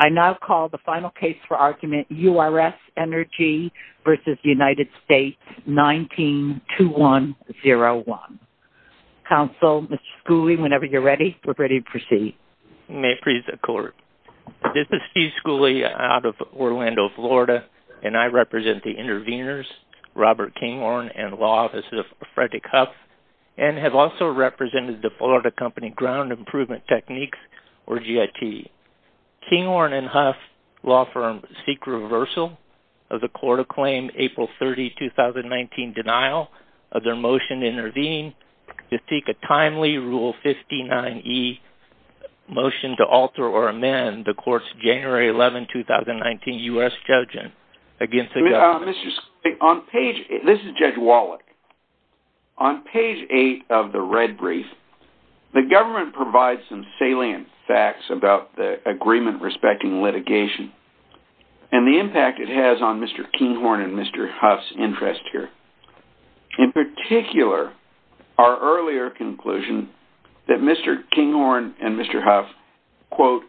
19-2101. Counsel, Mr. Schooley, whenever you're ready, we're ready to proceed. May it please the Court, this is Steve Schooley out of Orlando, Florida, and I represent the interveners, Robert Kinghorn and Law Offices of Frederick Huff, and have also represented the Florida Company Ground Improvement Techniques, or GIT. The Kinghorn and Huff Law Firm seek reversal of the Court of Claim April 30, 2019, denial of their motion to intervene, to seek a timely Rule 59e motion to alter or amend the Court's January 11, 2019 U.S. judgment against the government. On page, this is Judge Wallach, on page 8 of the red brief, the government provides some salient facts about the agreement respecting litigation, and the impact it has on Mr. Kinghorn and Mr. Huff's interest here. In particular, our earlier conclusion that Mr. Kinghorn and Mr. Huff, quote,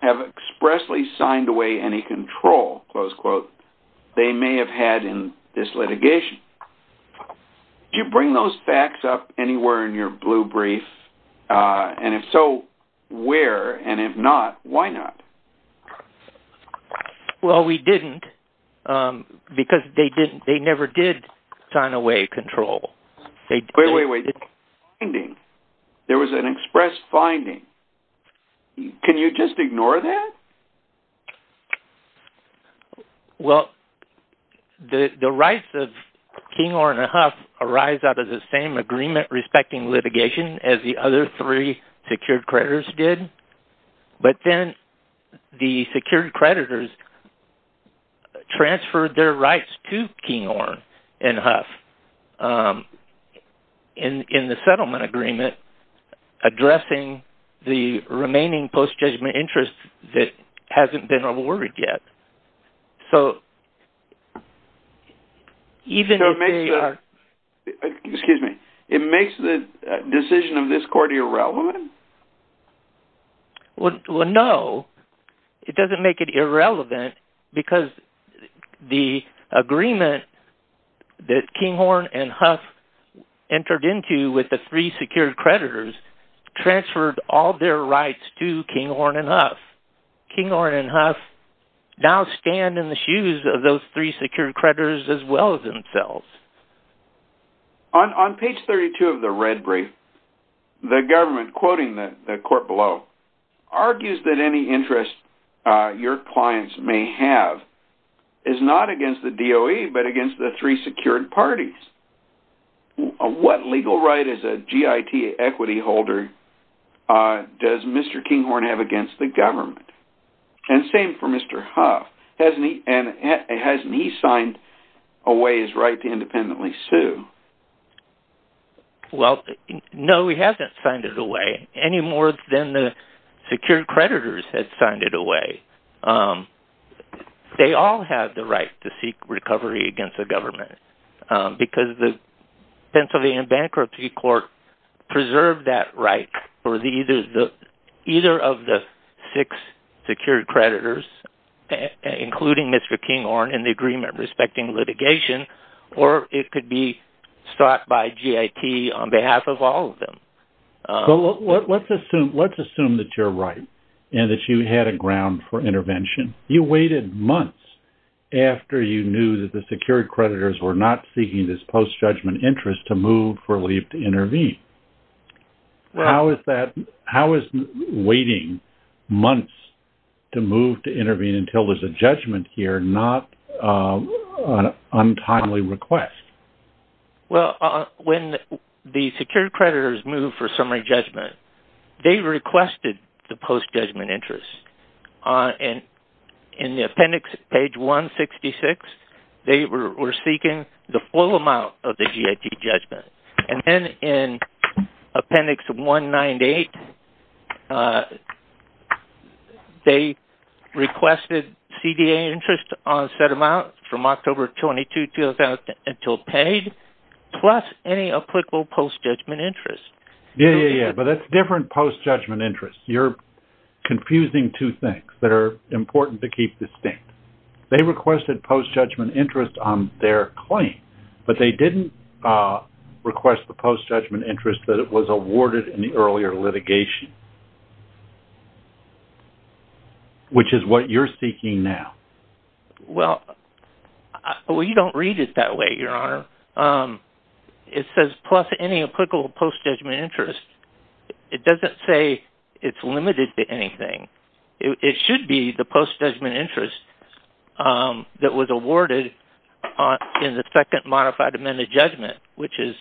have expressly signed away any control, close quote, they may have had in this litigation. Do you bring those facts up anywhere in your blue brief, and if so, where, and if not, why not? Well, we didn't, because they didn't, they never did sign away control. Wait, wait, wait, there was an express finding. Can you just ignore that? Well, the rights of Kinghorn and Huff arise out of the same agreement respecting litigation as the other three secured creditors did, but then the secured creditors transferred their rights to Kinghorn and Huff in the settlement agreement, addressing the remaining post-judgment interest that hasn't been awarded yet. So, even if they are... So it makes the, excuse me, it makes the decision of this court irrelevant? Well, no, it doesn't make it irrelevant, because the agreement that Kinghorn and Huff entered into with the three secured creditors transferred all their rights to Kinghorn and Huff. Kinghorn and Huff now stand in the shoes of those three secured creditors as well as themselves. On page 32 of the red brief, the government, quoting the court below, argues that any interest your clients may have is not against the DOE, but against the three secured parties. What legal right as a GIT equity holder does Mr. Kinghorn have against the government? And same for Mr. Huff. Hasn't he signed away his right to independently sue? Well, no, he hasn't signed it away, any more than the secured creditors had signed it away. They all have the right to seek recovery against the government, because the Pennsylvania Bankruptcy Court preserved that right for either of the six secured creditors, including Mr. Kinghorn, in the agreement respecting litigation, or it could be sought by GIT on behalf of all of them. Let's assume that you're right, and that you had a ground for intervention. You waited months after you knew that the secured creditors were not seeking this post-judgment interest to move for leave to intervene. How is waiting months to move to intervene until there's a judgment here not an untimely request? Well, when the secured creditors moved for summary judgment, they requested the post-judgment interest. In the appendix, page 166, they were seeking the full amount of the GIT judgment. And then in appendix 198, they requested CDA interest on a set amount from October 22, 2000 until paid, plus any applicable post-judgment interest. Yeah, but that's different post-judgment interest. You're confusing two things that are important to keep distinct. They requested post-judgment interest on their claim, but they didn't request the post-judgment interest that was awarded in the earlier litigation, which is what you're seeking now. Well, you don't read it that way, Your Honor. It says, plus any applicable post-judgment interest. It doesn't say it's limited to anything. It should be the post-judgment interest that was awarded in the second modified amended judgment, which is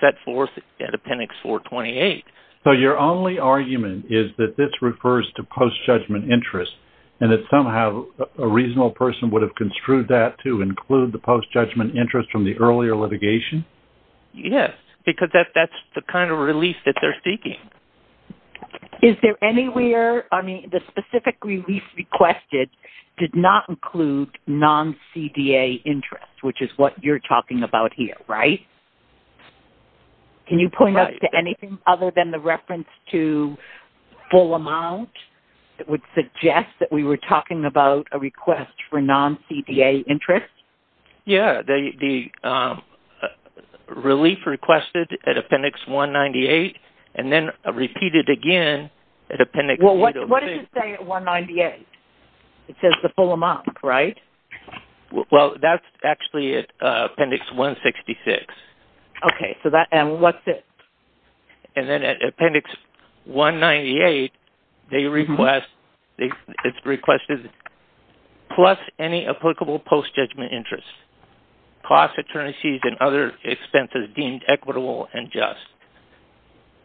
set forth in appendix 428. So your only argument is that this refers to post-judgment interest, and that somehow a reasonable person would have construed that to include the post-judgment interest from the earlier litigation? Yes, because that's the kind of relief that they're seeking. Is there anywhere-I mean, the specific relief requested did not include non-CDA interest, which is what you're talking about here, right? Right. Can you point out to anything other than the reference to full amount that would suggest that we were talking about a request for non-CDA interest? Yes, the relief requested at appendix 198, and then repeated again at appendix 806. Well, what does it say at 198? It says the full amount, right? Well, that's actually at appendix 166. Okay, and what's it? And then at appendix 198, it's requested plus any applicable post-judgment interest, cost, attorneys, and other expenses deemed equitable and just.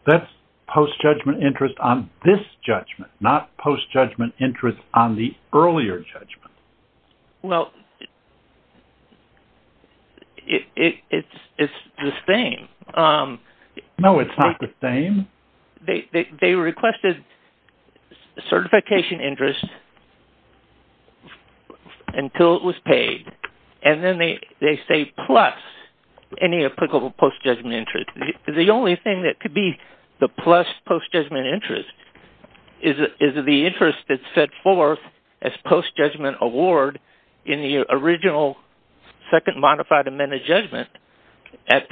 That's post-judgment interest on this judgment, not post-judgment interest on the earlier judgment. Well, it's the same. No, it's not the same. They requested certification interest until it was paid, and then they say plus any applicable post-judgment interest. The only thing that could be the plus post-judgment interest is the interest that's set forth as post-judgment award in the original second modified amended judgment at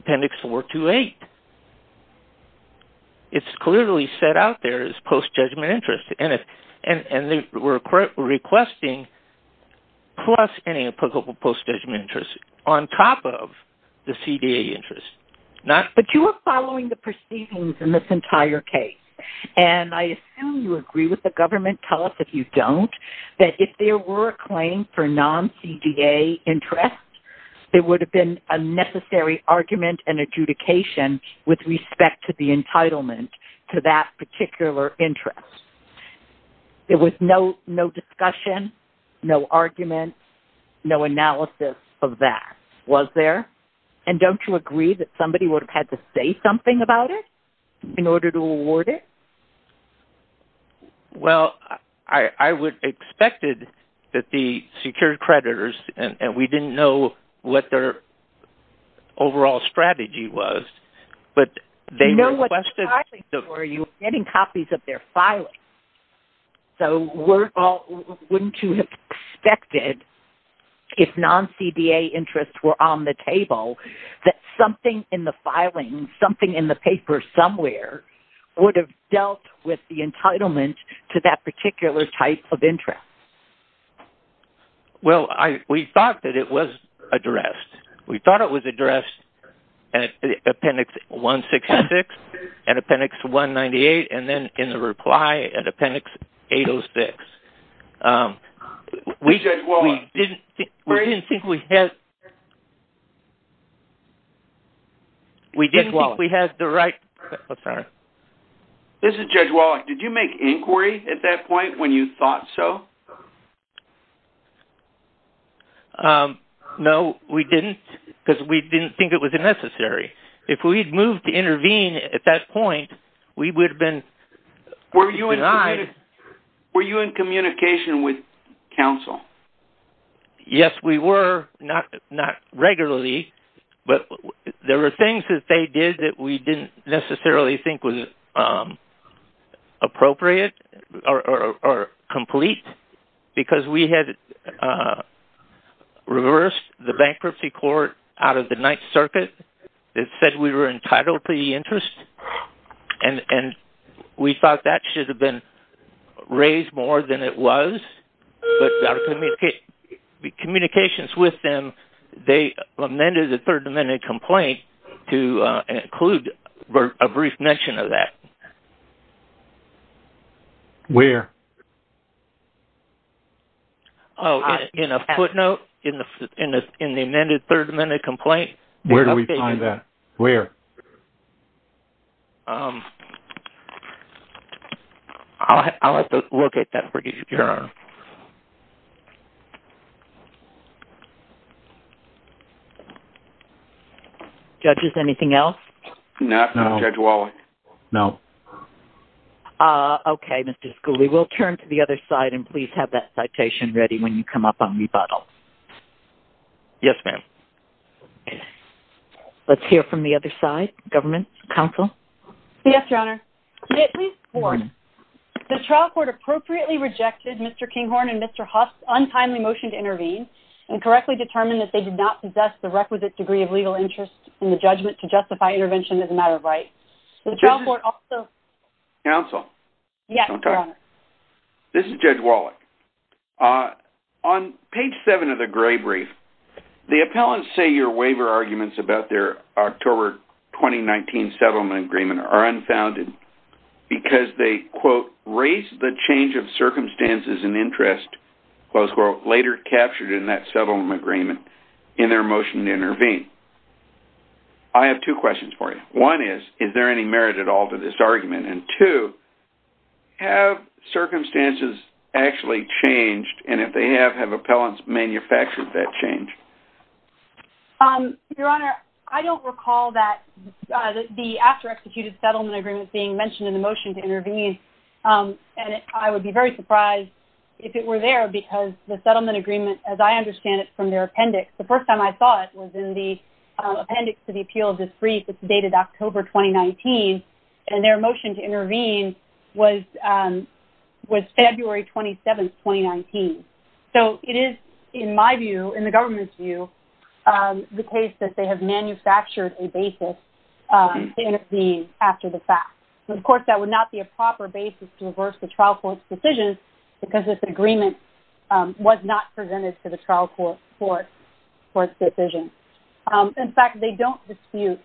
appendix 428. It's clearly set out there as post-judgment interest, and they were requesting plus any applicable post-judgment interest on top of the CDA interest. But you are following the proceedings in this entire case, and I assume you agree with the government. Tell us if you don't that if there were a claim for non-CDA interest, there would have been a necessary argument and adjudication with respect to the entitlement to that particular interest. There was no discussion, no argument, no analysis of that. Was there? And don't you agree that somebody would have had to say something about it in order to award it? Well, I would have expected that the secured creditors, and we didn't know what their overall strategy was, but they requested... You know what the filings were. You were getting copies of their filings. So wouldn't you have expected, if non-CDA interests were on the table, that something in the filings, something in the paper somewhere would have dealt with the entitlement to that particular type of interest? Well, we thought that it was addressed. We thought it was addressed at Appendix 166 and Appendix 198, and then in the reply at Appendix 806. Judge Wallach... We didn't think we had... Judge Wallach... We didn't think we had the right... I'm sorry. This is Judge Wallach. Did you make inquiry at that point when you thought so? No, we didn't, because we didn't think it was necessary. If we had moved to intervene at that point, we would have been denied... Were you in communication with counsel? Yes, we were. Not regularly, but there were things that they did that we didn't necessarily think was appropriate or complete. Because we had reversed the bankruptcy court out of the Ninth Circuit that said we were entitled to the interest, and we thought that should have been raised more than it was. But our communications with them, they amended the Third Amendment complaint to include a brief mention of that. Where? Oh, in a footnote in the amended Third Amendment complaint. Where do we find that? Where? I'll have to look at that for you, Your Honor. Judges, anything else? No, Judge Wallach. No. Okay, Mr. Schooley. We'll turn to the other side, and please have that citation ready when you come up on rebuttal. Yes, ma'am. Let's hear from the other side. Government? Counsel? Yes, Your Honor. The trial court appropriately rejected Mr. Kinghorn and Mr. Huff's untimely motion to intervene, and correctly determined that they did not possess the requisite degree of legal interest in the judgment to justify intervention as a matter of right. The trial court also... Counsel? Yes, Your Honor. This is Judge Wallach. On page 7 of the Gray Brief, the appellants say your waiver arguments about their October 2019 settlement agreement are unfounded because they, quote, raised the change of circumstances and interest, close quote, later captured in that settlement agreement in their motion to intervene. I have two questions for you. One is, is there any merit at all to this argument? And two, have circumstances actually changed, and if they have, have appellants manufactured that change? Your Honor, I don't recall that the after-executed settlement agreement being mentioned in the motion to intervene, and I would be very surprised if it were there because the settlement agreement, as I understand it from their appendix, the first time I saw it was in the appendix to the appeal of this brief. It's dated October 2019, and their motion to intervene was February 27, 2019. So it is, in my view, in the government's view, the case that they have manufactured a basis to intervene after the fact. Of course, that would not be a proper basis to reverse the trial court's decision because this agreement was not presented to the trial court for its decision. In fact, they don't dispute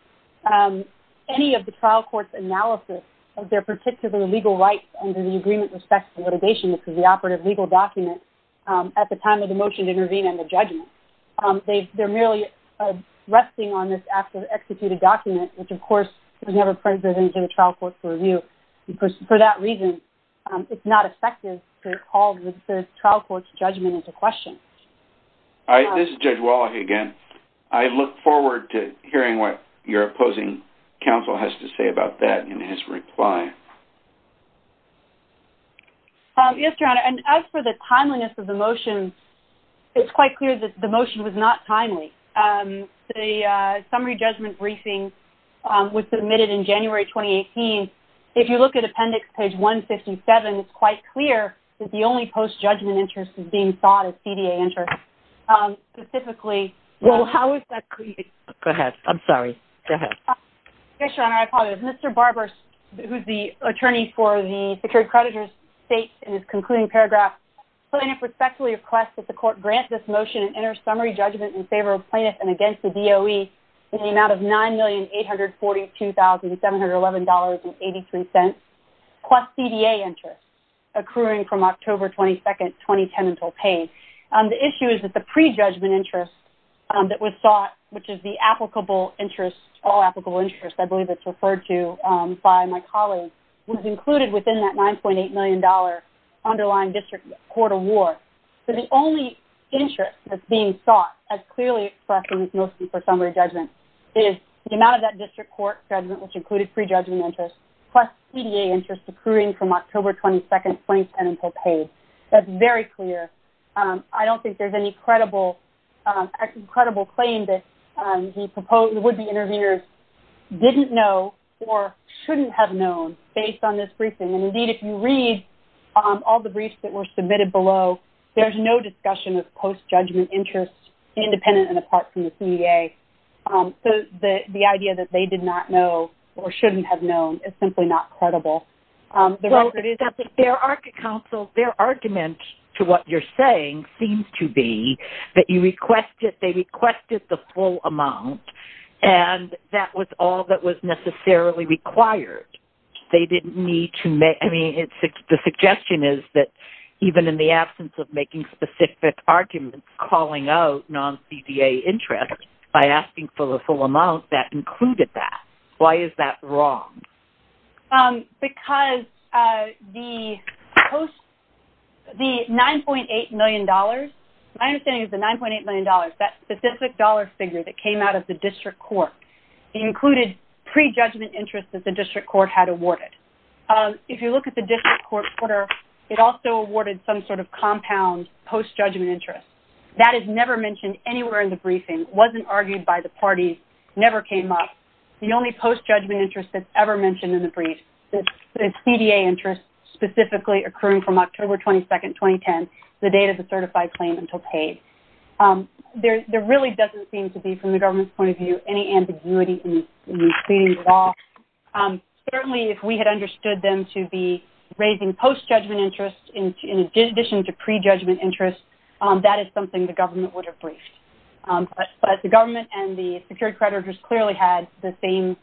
any of the trial court's analysis of their particular legal rights under the agreement with respect to litigation, which is the operative legal document, at the time of the motion to intervene and the judgment. They're merely resting on this after-executed document, which, of course, was never presented to the trial court for review. For that reason, it's not effective to call the trial court's judgment into question. This is Judge Wallach again. I look forward to hearing what your opposing counsel has to say about that in his reply. Yes, Your Honor, and as for the timeliness of the motion, it's quite clear that the motion was not timely. The summary judgment briefing was submitted in January 2018. If you look at Appendix Page 157, it's quite clear that the only post-judgment interest is being sought at CDA interest. Specifically, how is that created? Go ahead. I'm sorry. Go ahead. Yes, Your Honor, I apologize. Mr. Barber, who's the attorney for the secured creditor's state in his concluding paragraph, I respectfully request that the court grant this motion an inner summary judgment in favor of plaintiffs and against the DOE in the amount of $9,842,711.83 plus CDA interest, accruing from October 22, 2010 until paid. The issue is that the pre-judgment interest that was sought, which is the applicable interest, all applicable interest, I believe it's referred to by my colleague, was included within that $9.8 million underlying district court award. So the only interest that's being sought, as clearly expressed in this motion for summary judgment, is the amount of that district court judgment, which included pre-judgment interest, plus CDA interest accruing from October 22, 2010 until paid. That's very clear. I don't think there's any credible claim that the would-be intervenors didn't know or shouldn't have known based on this briefing. And, indeed, if you read all the briefs that were submitted below, there's no discussion of post-judgment interest independent and apart from the CDA. So the idea that they did not know or shouldn't have known is simply not credible. Their argument to what you're saying seems to be that they requested the full amount and that was all that was necessarily required. The suggestion is that even in the absence of making specific arguments, calling out non-CDA interest by asking for the full amount, that included that. Why is that wrong? Because the $9.8 million, my understanding is the $9.8 million, that specific dollar figure that came out of the district court, included pre-judgment interest that the district court had awarded. If you look at the district court order, it also awarded some sort of compound post-judgment interest. That is never mentioned anywhere in the briefing, wasn't argued by the party, never came up. The only post-judgment interest that's ever mentioned in the brief is CDA interest, specifically occurring from October 22, 2010, the date of the certified claim until paid. There really doesn't seem to be, from the government's point of view, any ambiguity in the proceedings at all. Certainly, if we had understood them to be raising post-judgment interest in addition to pre-judgment interest, that is something the government would have briefed. But the government and the security creditors clearly had the same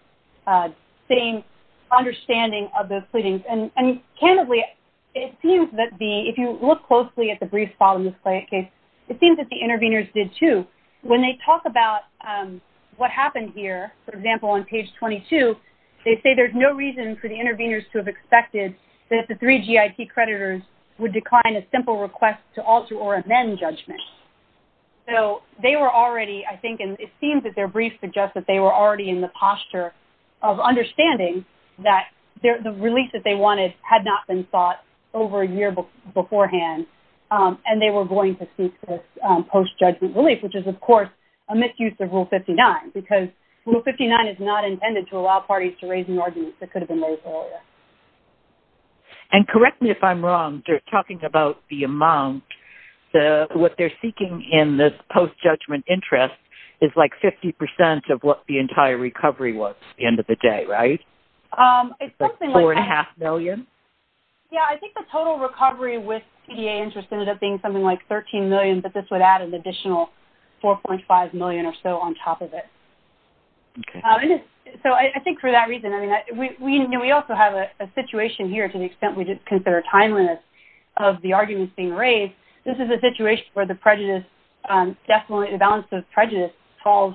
understanding of the proceedings. And candidly, it seems that if you look closely at the brief file in this case, it seems that the interveners did too. When they talk about what happened here, for example, on page 22, they say there's no reason for the interveners to have expected that the three GIT creditors would decline a simple request to alter or amend judgment. So they were already, I think, and it seems that their brief suggests that they were already in the posture of understanding that the release that they wanted had not been sought over a year beforehand, and they were going to seek this post-judgment relief, which is, of course, a misuse of Rule 59, because Rule 59 is not intended to allow parties to raise new arguments that could have been raised earlier. And correct me if I'm wrong, talking about the amount, what they're seeking in this post-judgment interest is like 50% of what the entire recovery was at the end of the day, right? It's like $4.5 million? Yeah, I think the total recovery with PDA interest ended up being something like $13 million, but this would add an additional $4.5 million or so on top of it. So I think for that reason, I mean, we also have a situation here to the extent we just consider timeliness of the arguments being raised. This is a situation where the prejudice, definitely the balance of prejudice falls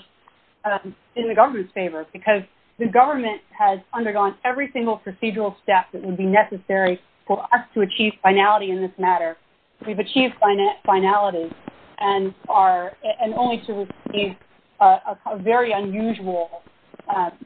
in the government's favor because the government has undergone every single procedural step that would be necessary for us to achieve finality in this matter. We've achieved finality and only to receive a very unusual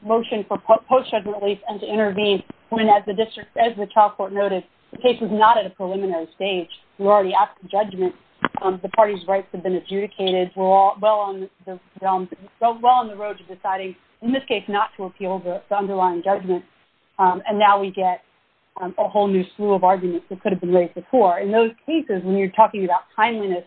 motion for post-judgment relief and to intervene when, as the child court noted, the case is not at a preliminary stage. We're already after judgment. The party's rights have been adjudicated. We're well on the road to deciding, in this case, not to appeal the underlying judgment. And now we get a whole new slew of arguments that could have been raised before. In those cases, when you're talking about timeliness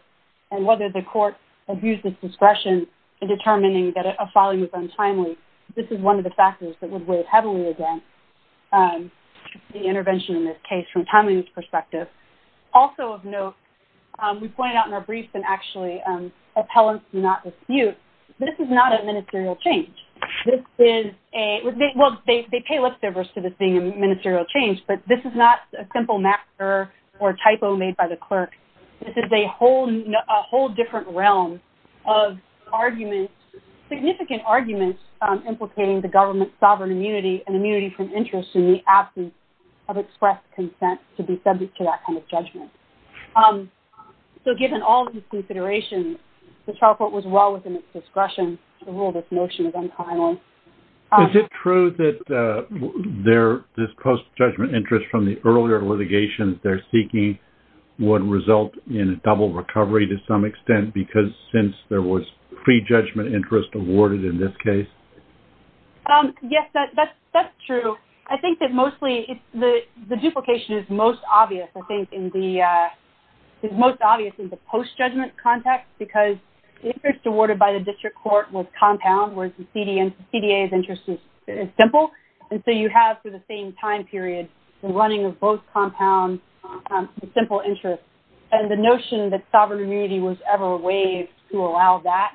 and whether the court abused its discretion in determining that a filing was untimely, this is one of the factors that would weigh heavily against the intervention in this case from a timeliness perspective. Also of note, we point out in our briefs and actually appellants do not dispute, this is not a ministerial change. This is a, well, they pay lip service to this being a ministerial change, but this is not a simple matter or a typo made by the clerk. This is a whole different realm of arguments, significant arguments, implicating the government's sovereign immunity and immunity from interest in the absence of expressed consent to be subject to that kind of judgment. So given all these considerations, the child court was well within its discretion to rule this motion as untimely. Is it true that this post-judgment interest from the earlier litigation they're seeking would result in a double recovery to some extent because since there was pre-judgment interest awarded in this case? Yes, that's true. I think that mostly the duplication is most obvious, I think, is most obvious in the post-judgment context because the interest awarded by the district court was compound, whereas the CDA's interest is simple. And so you have, for the same time period, the running of both compounds, the simple interest, and the notion that sovereign immunity was ever waived to allow that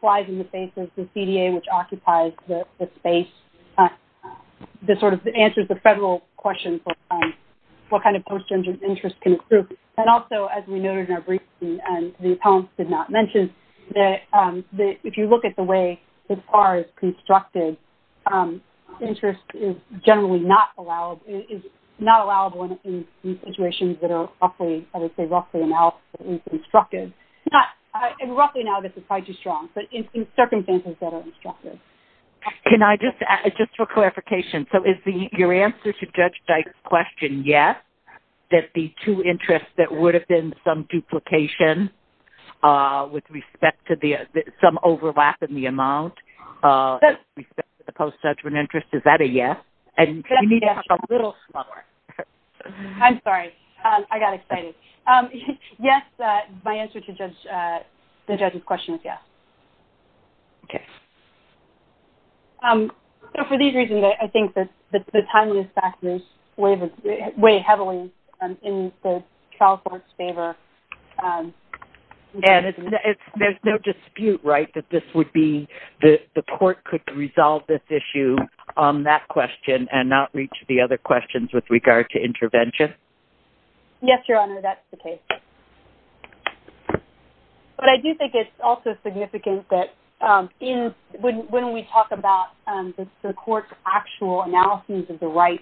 flies in the face of the CDA, which occupies the space, that sort of answers the federal question for what kind of post-judgment interest can accrue. And also, as we noted in our briefing, and the appellants did not mention, that if you look at the way the FAR is constructed, interest is generally not allowed, is not allowable in situations that are roughly, I would say, roughly constructed. And roughly, now, this is quite too strong, but in circumstances that are constructed. Can I just, just for clarification, so is your answer to Judge Dyke's question yes, that the two interests that would have been some duplication with respect to the, some overlap in the amount with respect to the post-judgment interest, is that a yes? And you need to talk a little slower. I'm sorry. I got excited. Yes, my answer to Judge, the judge's question is yes. Okay. So, for these reasons, I think that the time use factors weigh heavily in the trial court's favor. And there's no dispute, right, that this would be, the court could resolve this issue on that question and not reach the other questions with regard to intervention? Yes, Your Honor, that's the case. But I do think it's also significant that in, when we talk about the court's actual analysis of the right,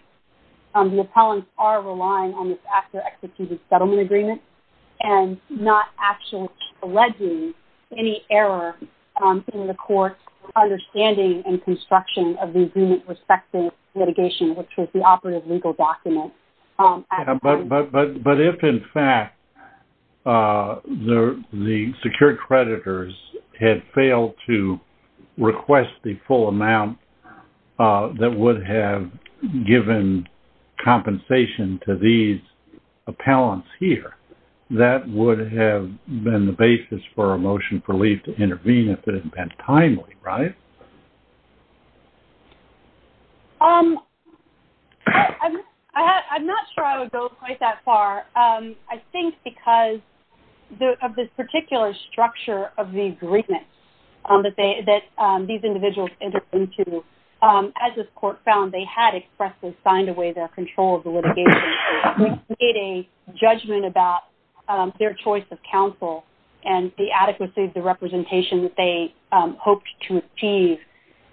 the appellants are relying on this after-executed settlement agreement and not actually alleging any error in the court's understanding and construction of the agreement with respect to litigation, which was the operative legal document. But if, in fact, the secured creditors had failed to request the full amount that would have given compensation to these appellants here, that would have been the basis for a motion for leave to intervene if it had been timely, right? I'm not sure I would go quite that far. I think because of this particular structure of the agreement that these individuals entered into, as this court found they had expressly signed away their control of the litigation, we made a judgment about their choice of counsel and the adequacy of the representation that they hoped to achieve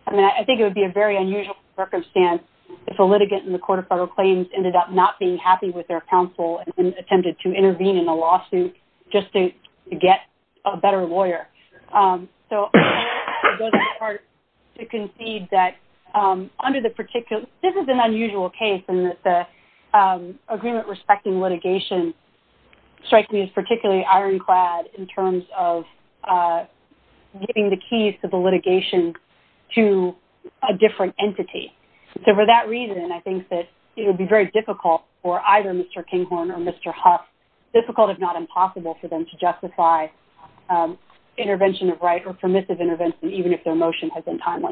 and I think it would be a very unusual circumstance if a litigant in the Court of Federal Claims ended up not being happy with their counsel and attempted to intervene in a lawsuit just to get a better lawyer. So I think it goes without saying that under the particular, this is an unusual case in that the agreement respecting litigation strikes me as particularly ironclad in terms of getting the keys to the litigation to a different entity. So for that reason, I think that it would be very difficult for either Mr. Kinghorn or Mr. Huff, difficult if not impossible for them to justify intervention of right or permissive intervention even if their motion has been timely.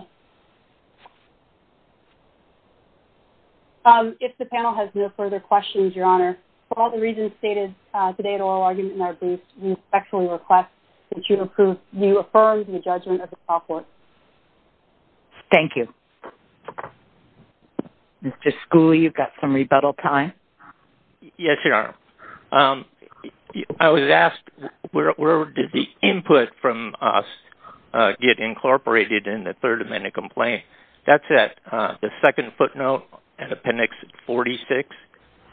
If the panel has no further questions, Your Honor, for all the reasons stated today at oral argument in our booth, we respectfully request that you affirm the judgment of the top court. Thank you. Mr. Schooley, you've got some rebuttal time. Yes, Your Honor. I was asked where did the input from us get incorporated in the Third Amendment complaint. That's at the second footnote in Appendix 46,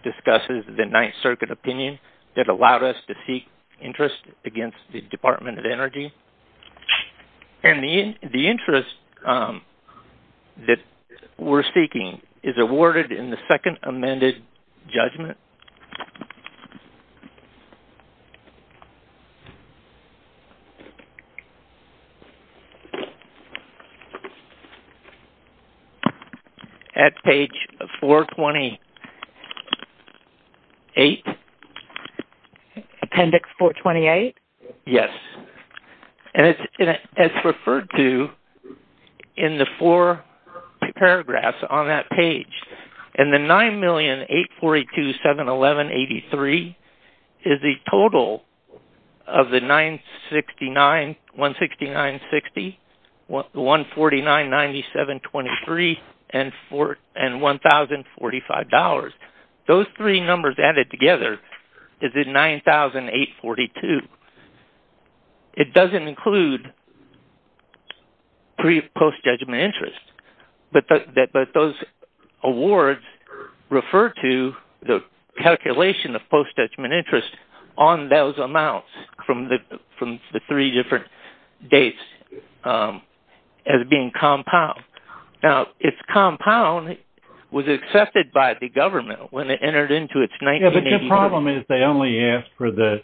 discusses the Ninth Circuit opinion that allowed us to seek interest against the Department of Energy. And the interest that we're seeking is awarded in the second amended judgment. At page 428. Appendix 428? Yes. And it's referred to in the four paragraphs on that page. And the $9,842,711.83 is the total of the $169.60, $149.97.23, and $1,045. Those three numbers added together is $9,842. It doesn't include pre- and post-judgment interest. But those awards refer to the calculation of post-judgment interest on those amounts from the three different dates as being compound. Now, it's compound was accepted by the government when it entered into its 1984. Yes, but your problem is they only asked for the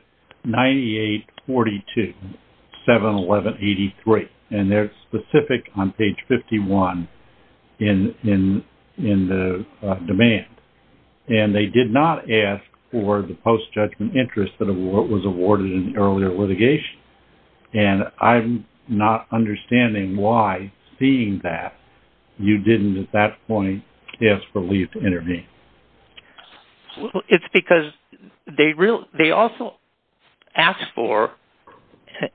$9,842,711.83. And they're specific on page 51 in the demand. And they did not ask for the post-judgment interest that was awarded in earlier litigation. And I'm not understanding why, seeing that, you didn't at that point ask for leave to intervene. It's because they also asked for,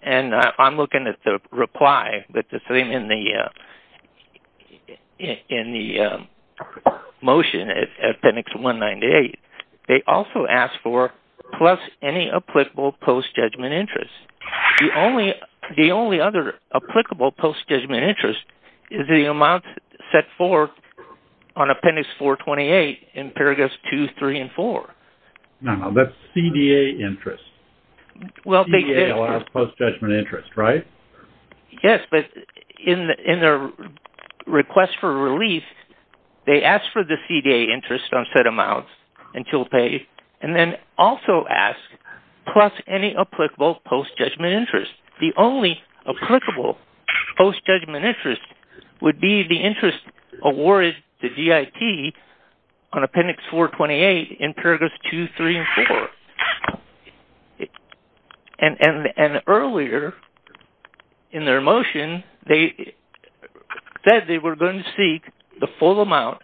and I'm looking at the reply in the motion at appendix 198. They also asked for plus any applicable post-judgment interest. The only other applicable post-judgment interest is the amount set forth on appendix 428 in paragraphs 2, 3, and 4. No, that's CDA interest. CDA allows post-judgment interest, right? Yes, but in their request for relief, they asked for the CDA interest on set amounts until paid. And then also asked plus any applicable post-judgment interest. The only applicable post-judgment interest would be the interest awarded to DIT on appendix 428 in paragraphs 2, 3, and 4. And earlier in their motion, they said they were going to seek the full amount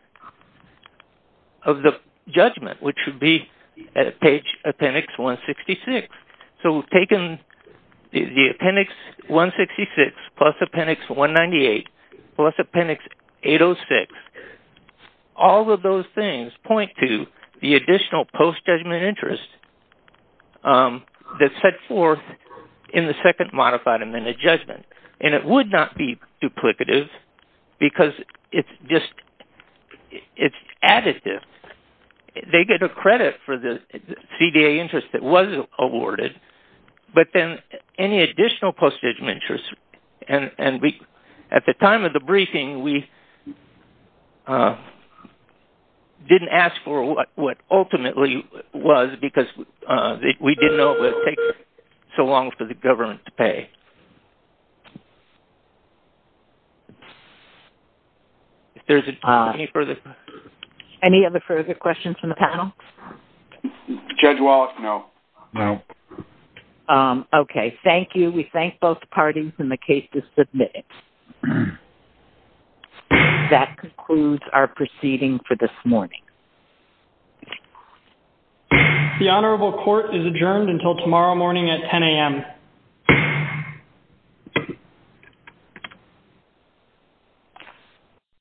of the judgment, which would be at appendix 166. So we've taken the appendix 166 plus appendix 198 plus appendix 806. All of those things point to the additional post-judgment interest that's set forth in the second modified amended judgment. And it would not be duplicative because it's just additive. They get a credit for the CDA interest that was awarded, but then any additional post-judgment interest. And at the time of the briefing, we didn't ask for what ultimately was because we didn't know it would take so long for the government to pay. Any other further questions from the panel? Judge Wallace, no. No. Okay. Thank you. We thank both parties in the case to submit it. That concludes our proceeding for this morning. The Honorable Court is adjourned until tomorrow morning at 10 a.m. Good night.